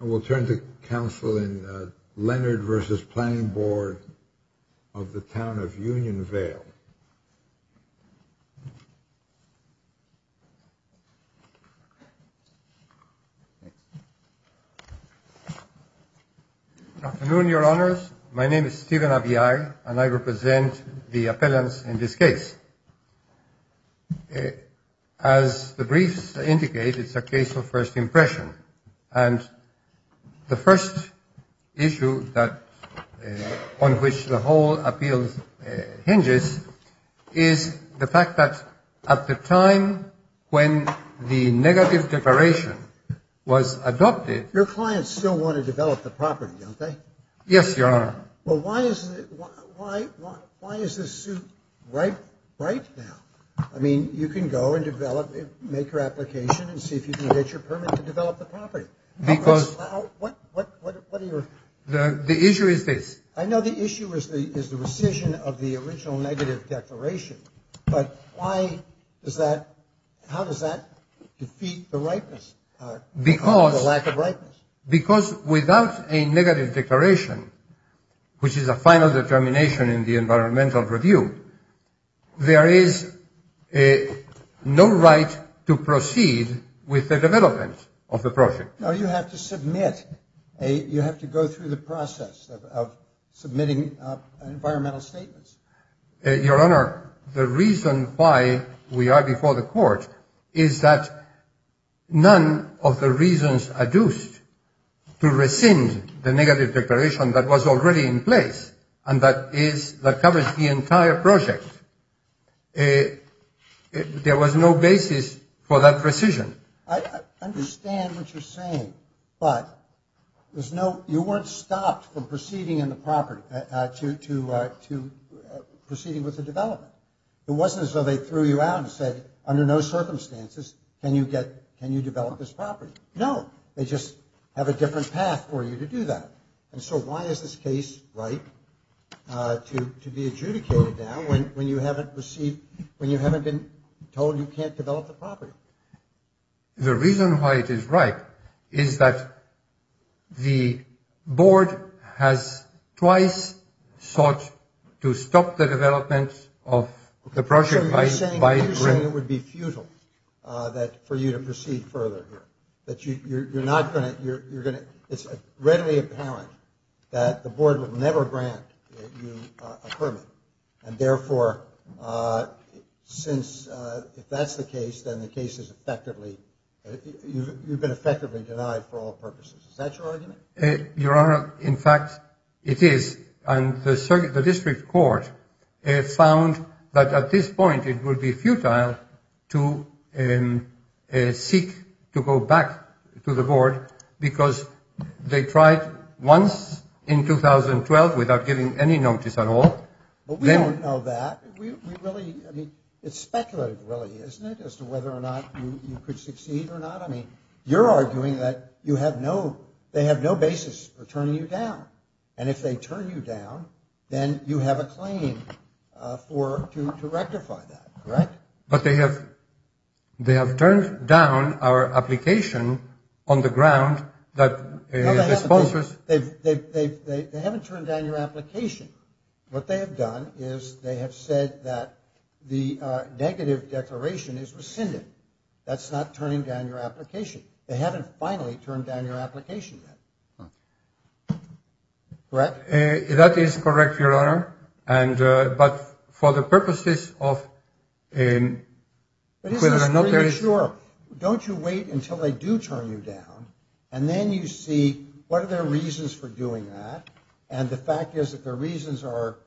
And we'll turn to counsel in Leonard v. Planning Board of the Town of Unionvale. Afternoon, Your Honors. My name is Stephen Abia and I represent the appellants in this case. As the briefs indicate, it's a case of first impression. And the first issue that on which the whole appeal hinges is the fact that at the time when the negative declaration was adopted. Your clients still want to develop the property, don't they? Yes, Your Honor. Well, why is why why is this suit right right now? I mean, you can go and develop it, make your application and see if you can get your permit to develop the property. Because what what what what are your the issue is this? I know the issue is the is the rescission of the original negative declaration. But why is that? How does that defeat the rightness? Because lack of right. Because without a negative declaration, which is a final determination in the environmental review, there is a no right to proceed with the development of the project. Now, you have to submit a you have to go through the process of submitting environmental statements. Your Honor, the reason why we are before the court is that none of the reasons are used to rescind the negative declaration that was already in place. And that is that covers the entire project. There was no basis for that precision. I understand what you're saying, but there's no you weren't stopped from proceeding in the property to to to proceeding with the development. It wasn't as though they threw you out and said, under no circumstances, can you get can you develop this property? No, they just have a different path for you to do that. And so why is this case right to be adjudicated now when you haven't received when you haven't been told you can't develop the property? The reason why it is right is that the board has twice sought to stop the development of the project. It would be futile that for you to proceed further that you're not going to you're going to. It's readily apparent that the board would never grant you a permit. And therefore, since that's the case, then the case is effectively you've been effectively denied for all purposes. Your Honor, in fact, it is on the circuit. The district court found that at this point it would be futile to seek to go back to the board because they tried once in 2012 without giving any notice at all. But we don't know that we really mean it's speculative, really, isn't it, as to whether or not you could succeed or not? I mean, you're arguing that you have no they have no basis for turning you down. And if they turn you down, then you have a claim for to rectify that. Right. But they have they have turned down our application on the ground that sponsors. They haven't turned down your application. What they have done is they have said that the negative declaration is rescinded. That's not turning down your application. They haven't finally turned down your application. That is correct. Your Honor. And but for the purposes of a. Sure. Don't you wait until they do turn you down and then you see what are their reasons for doing that? And the fact is that the reasons are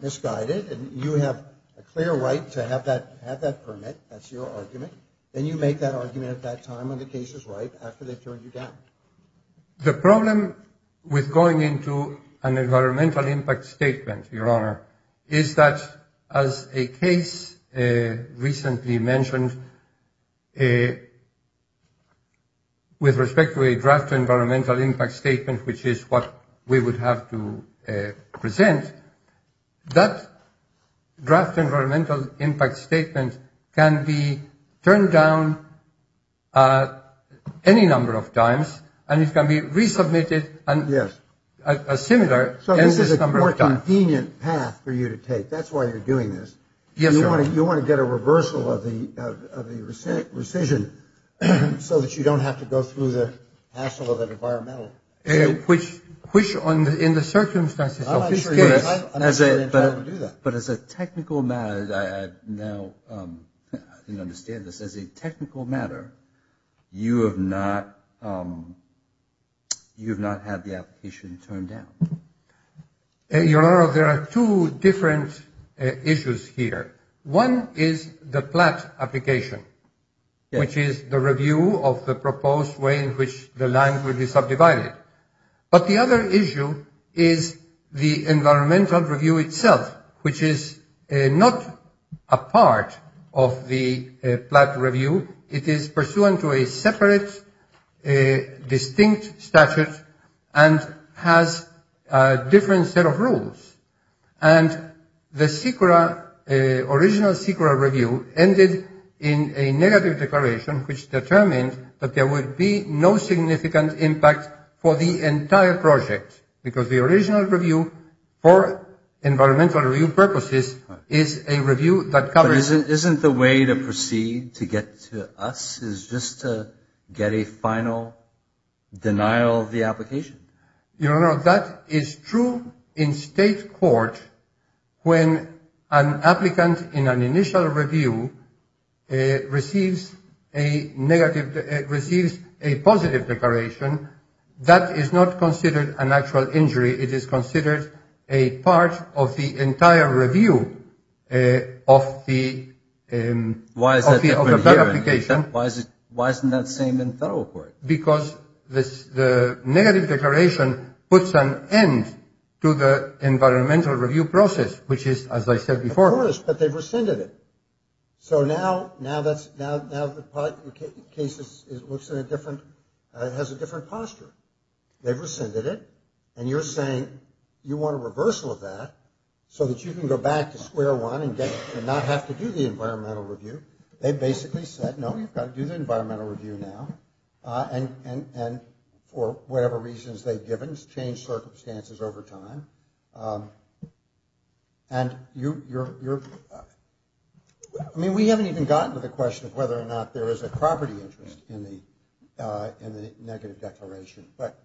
misguided and you have a clear right to have that have that permit. That's your argument. Then you make that argument at that time when the case is right after they turn you down. The problem with going into an environmental impact statement, Your Honor, is that as a case recently mentioned a. With respect to a draft environmental impact statement, which is what we would have to present, that draft environmental impact statement can be turned down any number of times and it can be resubmitted. And yes, a similar. So this is a convenient path for you to take. That's why you're doing this. Yes. You want to you want to get a reversal of the of the risk rescission so that you don't have to go through the hassle of an environmental. Which which in the circumstances of this case. But as a technical matter, I now understand this as a technical matter. You have not you have not had the application turned down. Your Honor, there are two different issues here. One is the plat application, which is the review of the proposed way in which the land will be subdivided. But the other issue is the environmental review itself, which is not a part of the plat review. It is pursuant to a separate a distinct statute and has a different set of rules. And the secret original secret review ended in a negative declaration, which determined that there would be no significant impact for the entire project, because the original review for environmental review purposes is a review that covers it. Isn't the way to proceed to get to us is just to get a final denial of the application. You know, that is true in state court. When an applicant in an initial review receives a negative, it receives a positive declaration that is not considered an actual injury. It is considered a part of the entire review of the. And why is that? Why is it? Why isn't that same in federal court? Because this negative declaration puts an end to the environmental review process, which is, as I said before. But they've rescinded it. So now now that's now the case is it looks in a different has a different posture. They've rescinded it. And you're saying you want a reversal of that so that you can go back to square one and get and not have to do the environmental review. They basically said, no, you've got to do the environmental review now. And and for whatever reasons, they've given change circumstances over time. And you're you're I mean, we haven't even gotten to the question of whether or not there is a property interest in the negative declaration, but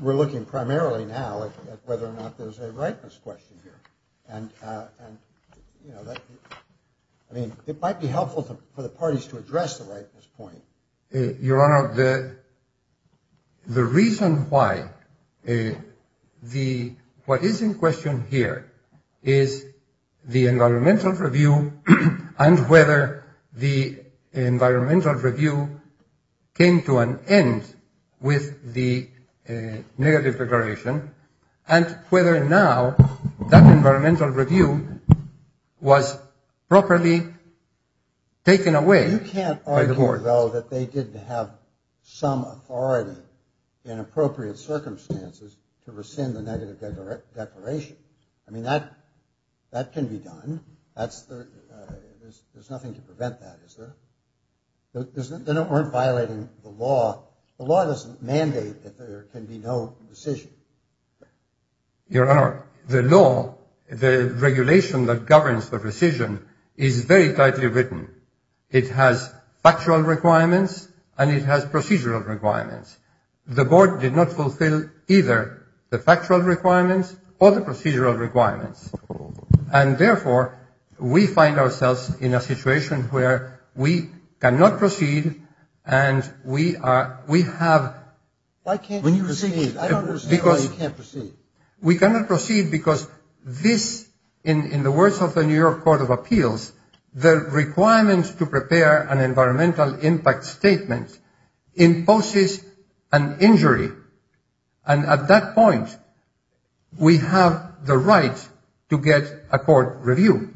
we're looking primarily now at whether or not there's a rightness question here. And, you know, I mean, it might be helpful for the parties to address the rightness point. Your Honor, the. The reason why the what is in question here is the environmental review and whether the environmental review came to an end with the negative declaration and whether or not that environmental review was properly taken away. You can't argue, though, that they didn't have some authority in appropriate circumstances to rescind the negative declaration. I mean, that that can be done. That's there. There's nothing to prevent that. They don't want violating the law. The law doesn't mandate that there can be no decision. Your Honor, the law, the regulation that governs the decision is very tightly written. It has factual requirements and it has procedural requirements. The board did not fulfill either the factual requirements or the procedural requirements. And therefore, we find ourselves in a situation where we cannot proceed. And we are we have like when you receive because you can't proceed. We cannot proceed because this in the words of the New York Court of Appeals, the requirements to prepare an environmental impact statement imposes an injury. And at that point, we have the right to get a court review.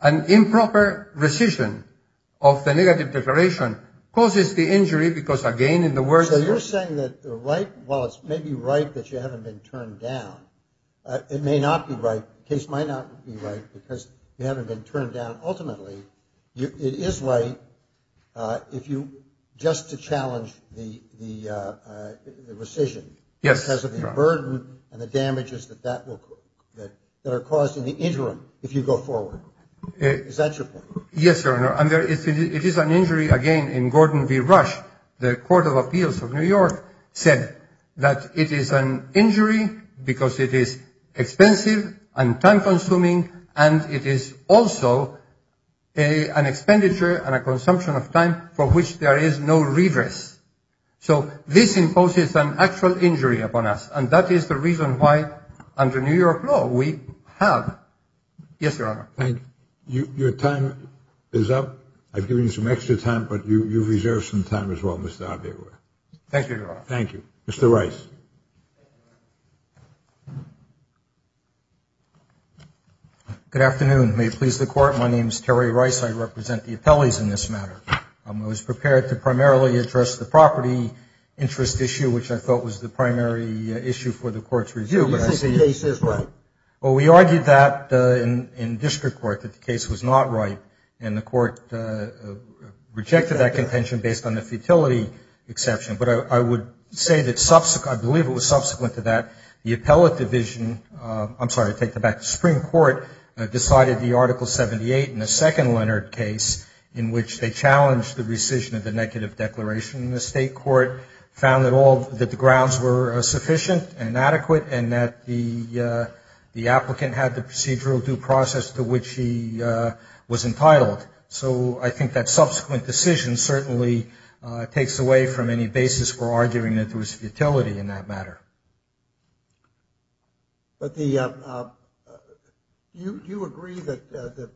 An improper rescission of the negative declaration causes the injury because, again, in the words. You're saying that the right. Well, it's maybe right that you haven't been turned down. It may not be right. Case might not be right because you haven't been turned down. Ultimately, it is right if you just to challenge the rescission. Yes, because of the burden and the damages that that will that that are caused in the interim. If you go forward. Is that your point? Yes, sir. And it is an injury again in Gordon v. Rush. The Court of Appeals of New York said that it is an injury because it is expensive and time consuming. And it is also an expenditure and a consumption of time for which there is no reverse. So this imposes an actual injury upon us. And that is the reason why, under New York law, we have. Yes, your honor. Thank you. Your time is up. I've given you some extra time, but you reserve some time as well. Thank you. Thank you. Mr. Rice. Good afternoon. May it please the court. My name is Terry Rice. I represent the appellees in this matter. I was prepared to primarily address the property interest issue, which I thought was the primary issue for the court's review. Well, we argued that in district court that the case was not right. And the court rejected that contention based on the futility exception. But I would say that subsequent I believe it was subsequent to that. The appellate division. I'm sorry to take the back. The Supreme Court decided the Article 78 in the second Leonard case in which they challenged the rescission of the negative declaration. The state court found that all that the grounds were sufficient and adequate and that the the applicant had the procedural due process to which he was entitled. So I think that subsequent decision certainly takes away from any basis for arguing that there was futility in that matter. But the you do agree that the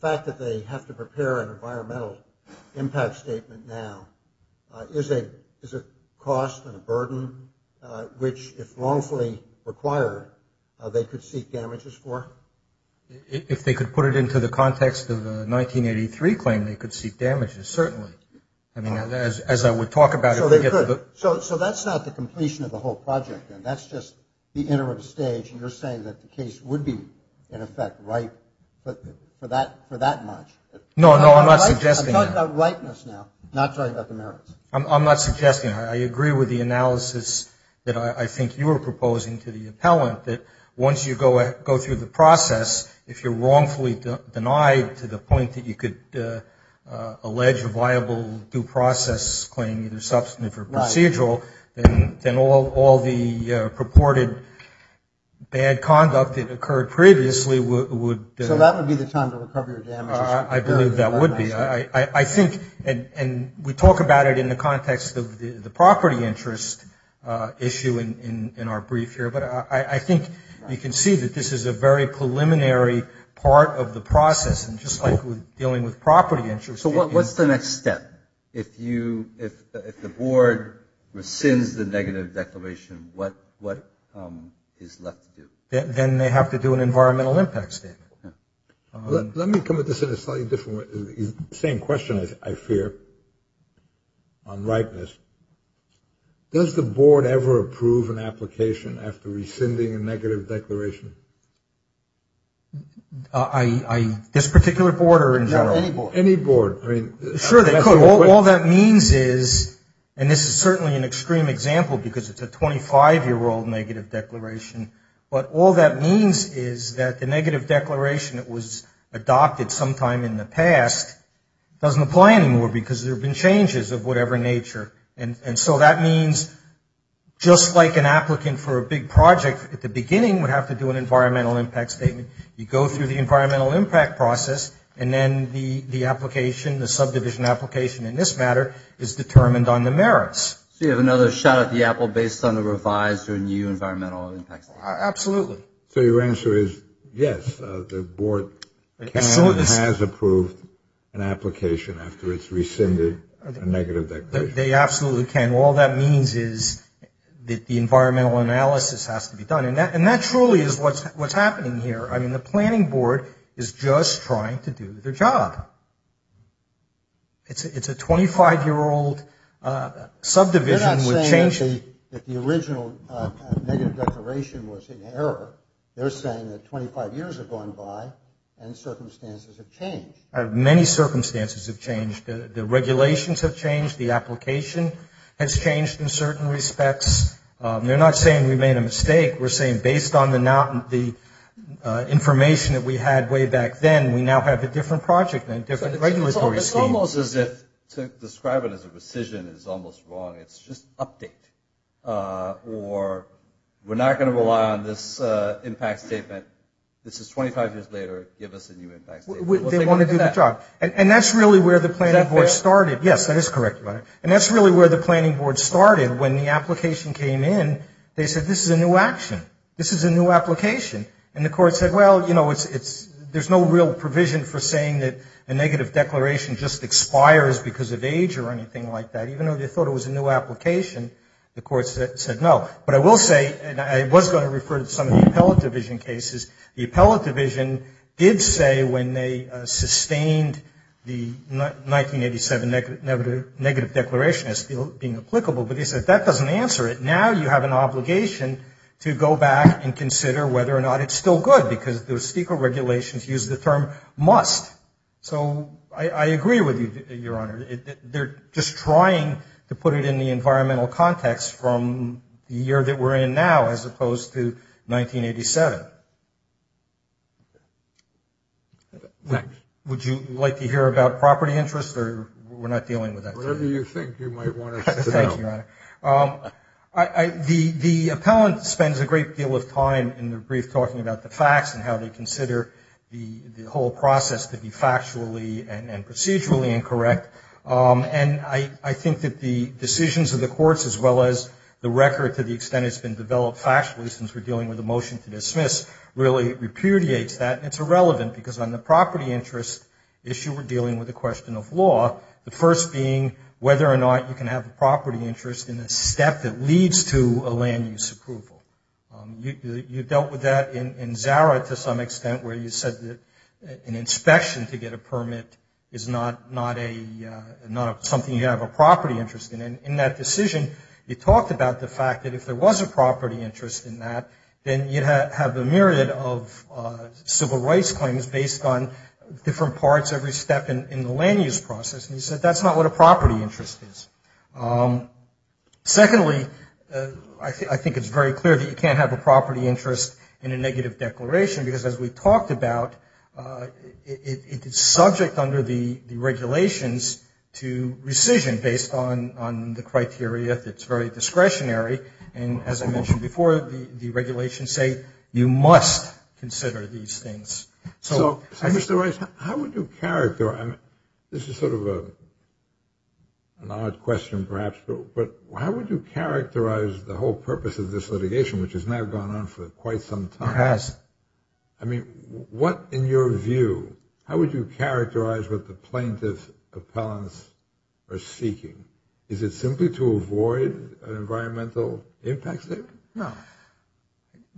fact that they have to prepare an environmental impact statement now is a is a cost and a burden, which if wrongfully required, they could seek damages for. If they could put it into the context of the 1983 claim, they could seek damages. Certainly, I mean, as I would talk about it. So that's not the completion of the whole project. And that's just the interim stage. And you're saying that the case would be, in effect, right. But for that for that much. No, no, I'm not suggesting that rightness now. Not talking about the merits. I'm not suggesting. I agree with the analysis that I think you were proposing to the appellant that once you go go through the process, if you're wrongfully denied to the point that you could allege a viable due process claim, either substantive or procedural, then all the purported bad conduct that occurred previously would. So that would be the time to recover your damages. I believe that would be I think. And we talk about it in the context of the property interest issue in our brief here. But I think you can see that this is a very preliminary part of the process. And just like we're dealing with property interest. So what's the next step? If you if the board rescinds the negative declaration, what what is left to do? Then they have to do an environmental impact statement. Let me come at this in a slightly different way. Same question, I fear. On rightness. Does the board ever approve an application after rescinding a negative declaration? I. This particular board or in general? Any board. Sure. All that means is. And this is certainly an extreme example because it's a 25 year old negative declaration. But all that means is that the negative declaration that was adopted sometime in the past doesn't apply anymore. Because there have been changes of whatever nature. And so that means just like an applicant for a big project at the beginning would have to do an environmental impact statement. You go through the environmental impact process. And then the application, the subdivision application in this matter, is determined on the merits. You have another shot at the apple based on the revised or new environmental impact. Absolutely. So your answer is, yes, the board has approved an application after it's rescinded a negative declaration. They absolutely can. All that means is that the environmental analysis has to be done. And that and that truly is what's what's happening here. I mean, the planning board is just trying to do their job. It's a 25 year old subdivision. They're not saying that the original negative declaration was in error. They're saying that 25 years have gone by and circumstances have changed. Many circumstances have changed. The regulations have changed. The application has changed in certain respects. They're not saying we made a mistake. We're saying based on the information that we had way back then, we now have a different project, a different regulatory scheme. It's almost as if to describe it as a rescission is almost wrong. It's just update. Or we're not going to rely on this impact statement. This is 25 years later. Give us a new impact statement. They want to do the job. And that's really where the planning board started. Is that fair? Yes, that is correct. And that's really where the planning board started. When the application came in, they said this is a new action. This is a new application. And the court said, well, you know, there's no real provision for saying that a negative declaration just expires because of age or anything like that. Even though they thought it was a new application, the court said no. But I will say, and I was going to refer to some of the appellate division cases, the appellate division did say when they sustained the 1987 negative declaration as being applicable, but they said that doesn't answer it. Now you have an obligation to go back and consider whether or not it's still good because the regulations use the term must. So I agree with you, Your Honor. They're just trying to put it in the environmental context from the year that we're in now as opposed to 1987. Would you like to hear about property interest or we're not dealing with that today? Thank you, Your Honor. The appellant spends a great deal of time in the brief talking about the facts and how they consider the whole process to be factually and procedurally incorrect. And I think that the decisions of the courts as well as the record to the extent it's been developed factually since we're dealing with a motion to dismiss really repudiates that. It's irrelevant because on the property interest issue we're dealing with a question of law, the first being whether or not you can have a property interest in a step that leads to a land use approval. You dealt with that in Zara to some extent where you said that an inspection to get a permit is not something you have a property interest in. And in that decision you talked about the fact that if there was a property interest in that, then you'd have a myriad of civil rights claims based on different parts every step in the land use process. And you said that's not what a property interest is. Secondly, I think it's very clear that you can't have a property interest in a negative declaration because as we talked about it's subject under the regulations to rescission based on the criteria that's very discretionary. And as I mentioned before, the regulations say you must consider these things. So, Mr. Rice, how would you characterize, this is sort of an odd question perhaps, but how would you characterize the whole purpose of this litigation which has now gone on for quite some time? It has. I mean, what in your view, how would you characterize what the plaintiff's appellants are seeking? Is it simply to avoid an environmental impact? No.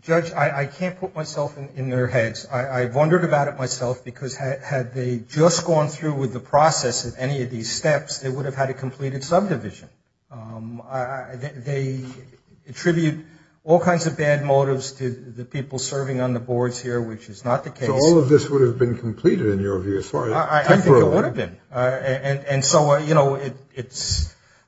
Judge, I can't put myself in their heads. I've wondered about it myself because had they just gone through with the process of any of these steps, they would have had a completed subdivision. They attribute all kinds of bad motives to the people serving on the boards here, which is not the case. So all of this would have been completed in your view as far as temporarily. I think it would have been. And so, you know,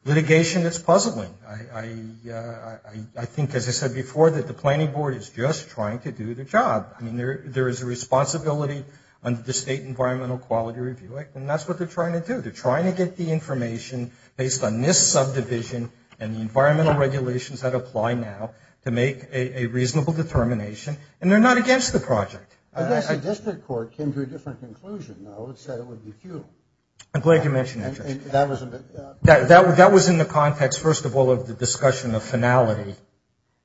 litigation is puzzling. I think, as I said before, that the planning board is just trying to do their job. I mean, there is a responsibility under the State Environmental Quality Review Act, and that's what they're trying to do. They're trying to get the information based on this subdivision and the environmental regulations that apply now to make a reasonable determination, and they're not against the project. I guess the district court came to a different conclusion, though. It said it would be futile. I'm glad you mentioned that, Judge. That was in the context, first of all, of the discussion of finality.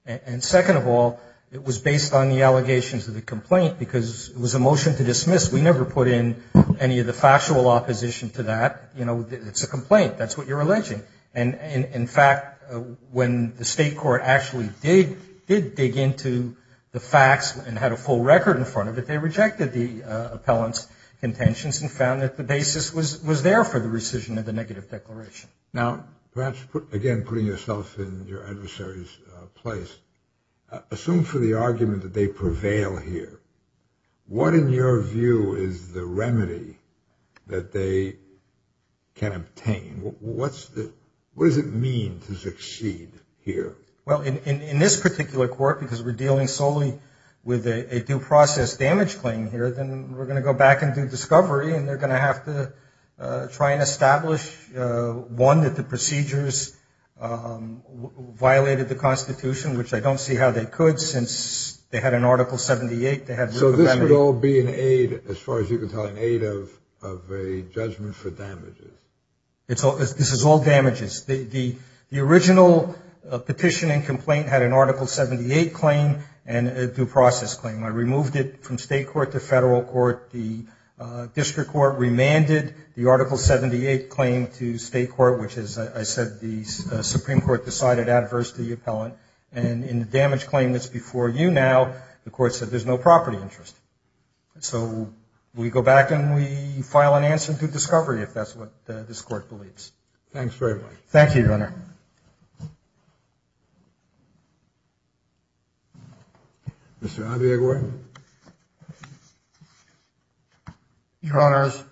And second of all, it was based on the allegations of the complaint because it was a motion to dismiss. We never put in any of the factual opposition to that. You know, it's a complaint. That's what you're alleging. And, in fact, when the state court actually did dig into the facts and had a full record in front of it, they rejected the appellant's contentions and found that the basis was there for the rescission of the negative declaration. Now, perhaps, again, putting yourself in your adversary's place, assume for the argument that they prevail here. What, in your view, is the remedy that they can obtain? What does it mean to succeed here? Well, in this particular court, because we're dealing solely with a due process damage claim here, then we're going to go back and do discovery, and they're going to have to try and establish, one, that the procedures violated the Constitution, which I don't see how they could since they had an Article 78. So this would all be an aid, as far as you can tell, an aid of a judgment for damages. This is all damages. The original petition and complaint had an Article 78 claim and a due process claim. I removed it from state court to federal court. The district court remanded the Article 78 claim to state court, which, as I said, the Supreme Court decided adverse to the appellant. And in the damage claim that's before you now, the court said there's no property interest. So we go back and we file an answer to discovery, if that's what this court believes. Thanks very much. Thank you, Your Honor. Mr. Andriagor? Your Honors,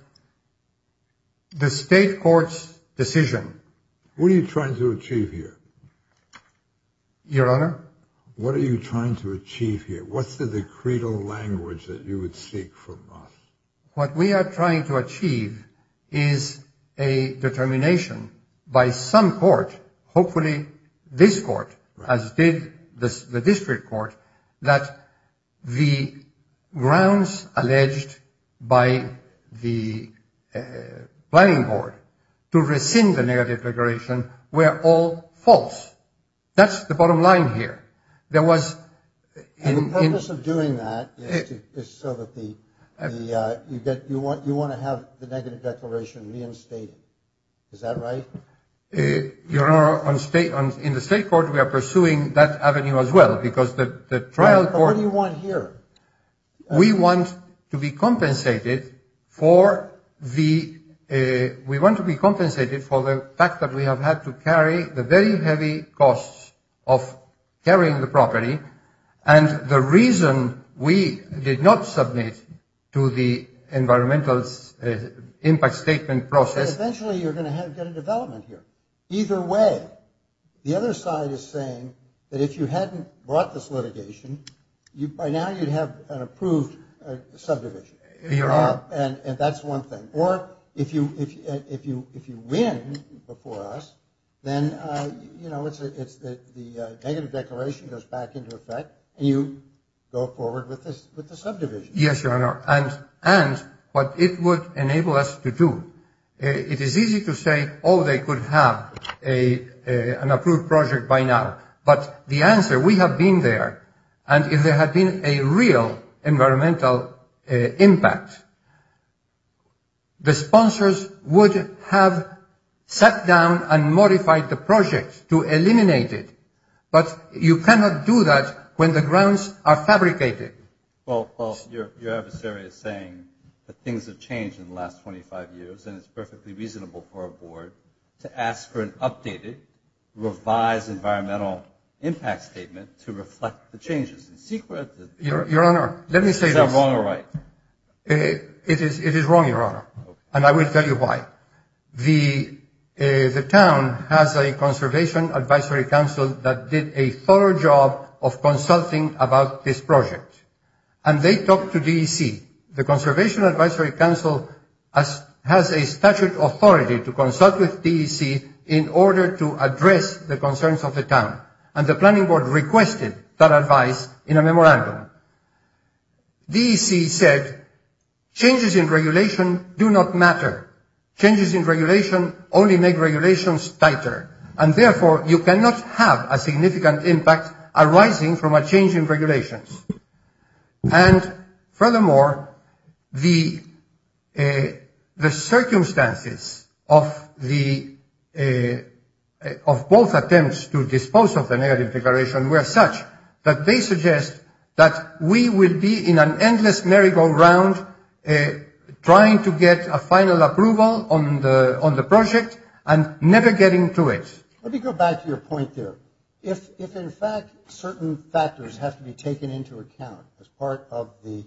the state court's decision. What are you trying to achieve here? Your Honor? What are you trying to achieve here? What's the creedal language that you would seek from us? What we are trying to achieve is a determination by some court, hopefully this court, as did the district court, that the grounds alleged by the planning board to rescind the negative declaration were all false. That's the bottom line here. There was. And the purpose of doing that is so that you want to have the negative declaration reinstated. Is that right? Your Honor, in the state court we are pursuing that avenue as well because the trial court. What do you want here? We want to be compensated for the fact that we have had to carry the very heavy costs of carrying the property, and the reason we did not submit to the environmental impact statement process. Eventually you're going to get a development here. Either way. The other side is saying that if you hadn't brought this litigation, by now you'd have an approved subdivision. Your Honor. And that's one thing. Or if you win before us, then, you know, the negative declaration goes back into effect, and you go forward with the subdivision. Yes, Your Honor. And what it would enable us to do. It is easy to say, oh, they could have an approved project by now. But the answer, we have been there. And if there had been a real environmental impact, the sponsors would have sat down and modified the project to eliminate it. But you cannot do that when the grounds are fabricated. Well, your adversary is saying that things have changed in the last 25 years, and it's perfectly reasonable for a board to ask for an updated revised environmental impact statement to reflect the changes in secret. Your Honor, let me say this. Is that wrong or right? It is wrong, Your Honor, and I will tell you why. The town has a conservation advisory council that did a thorough job of consulting about this project. And they talked to DEC. The conservation advisory council has a statute authority to consult with DEC in order to address the concerns of the town. And the planning board requested that advice in a memorandum. DEC said, changes in regulation do not matter. Changes in regulation only make regulations tighter. And, therefore, you cannot have a significant impact arising from a change in regulations. And, furthermore, the circumstances of both attempts to dispose of the negative declaration were such that they suggest that we will be in an endless merry-go-round trying to get a final approval on the project and never getting to it. Let me go back to your point there. If, in fact, certain factors have to be taken into account as part of the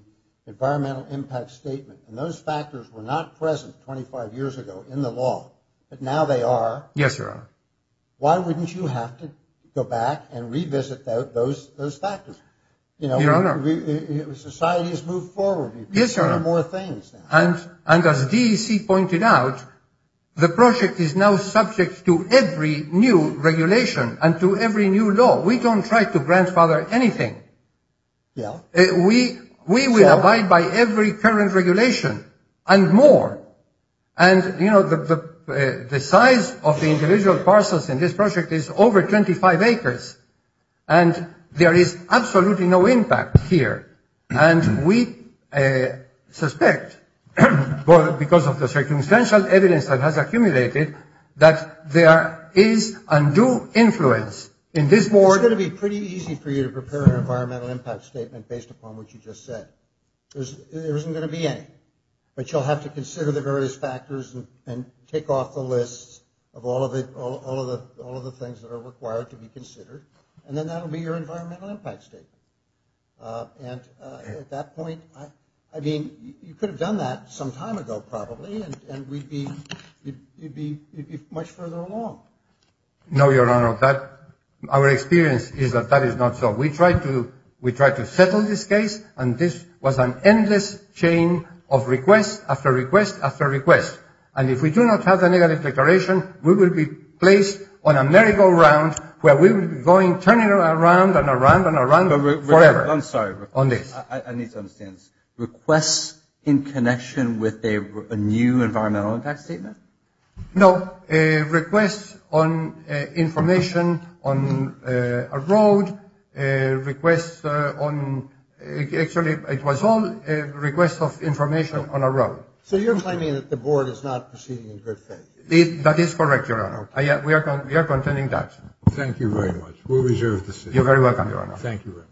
environmental impact statement, and those factors were not present 25 years ago in the law, but now they are. Yes, Your Honor. Why wouldn't you have to go back and revisit those factors? Your Honor. Society has moved forward. Yes, Your Honor. You can do more things now. And as DEC pointed out, the project is now subject to every new regulation and to every new law. We don't try to grandfather anything. We will abide by every current regulation and more. And, you know, the size of the individual parcels in this project is over 25 acres. And there is absolutely no impact here. And we suspect, because of the circumstantial evidence that has accumulated, that there is undue influence in this board. It's going to be pretty easy for you to prepare an environmental impact statement based upon what you just said. There isn't going to be any. But you'll have to consider the various factors and take off the list of all of the things that are required to be considered. And then that will be your environmental impact statement. And at that point, I mean, you could have done that some time ago, probably, and we'd be much further along. No, Your Honor. Our experience is that that is not so. We tried to settle this case, and this was an endless chain of requests after request after request. And if we do not have a negative declaration, we will be placed on a merry-go-round where we will be going, you know, around and around and around forever. I'm sorry. On this. I need to understand this. Requests in connection with a new environmental impact statement? No. Requests on information on a road, requests on, actually, it was all requests of information on a road. So you're claiming that the board is not proceeding in good faith? That is correct, Your Honor. We are contending that. Thank you very much. We'll reserve the seat. You're very welcome, Your Honor. Thank you.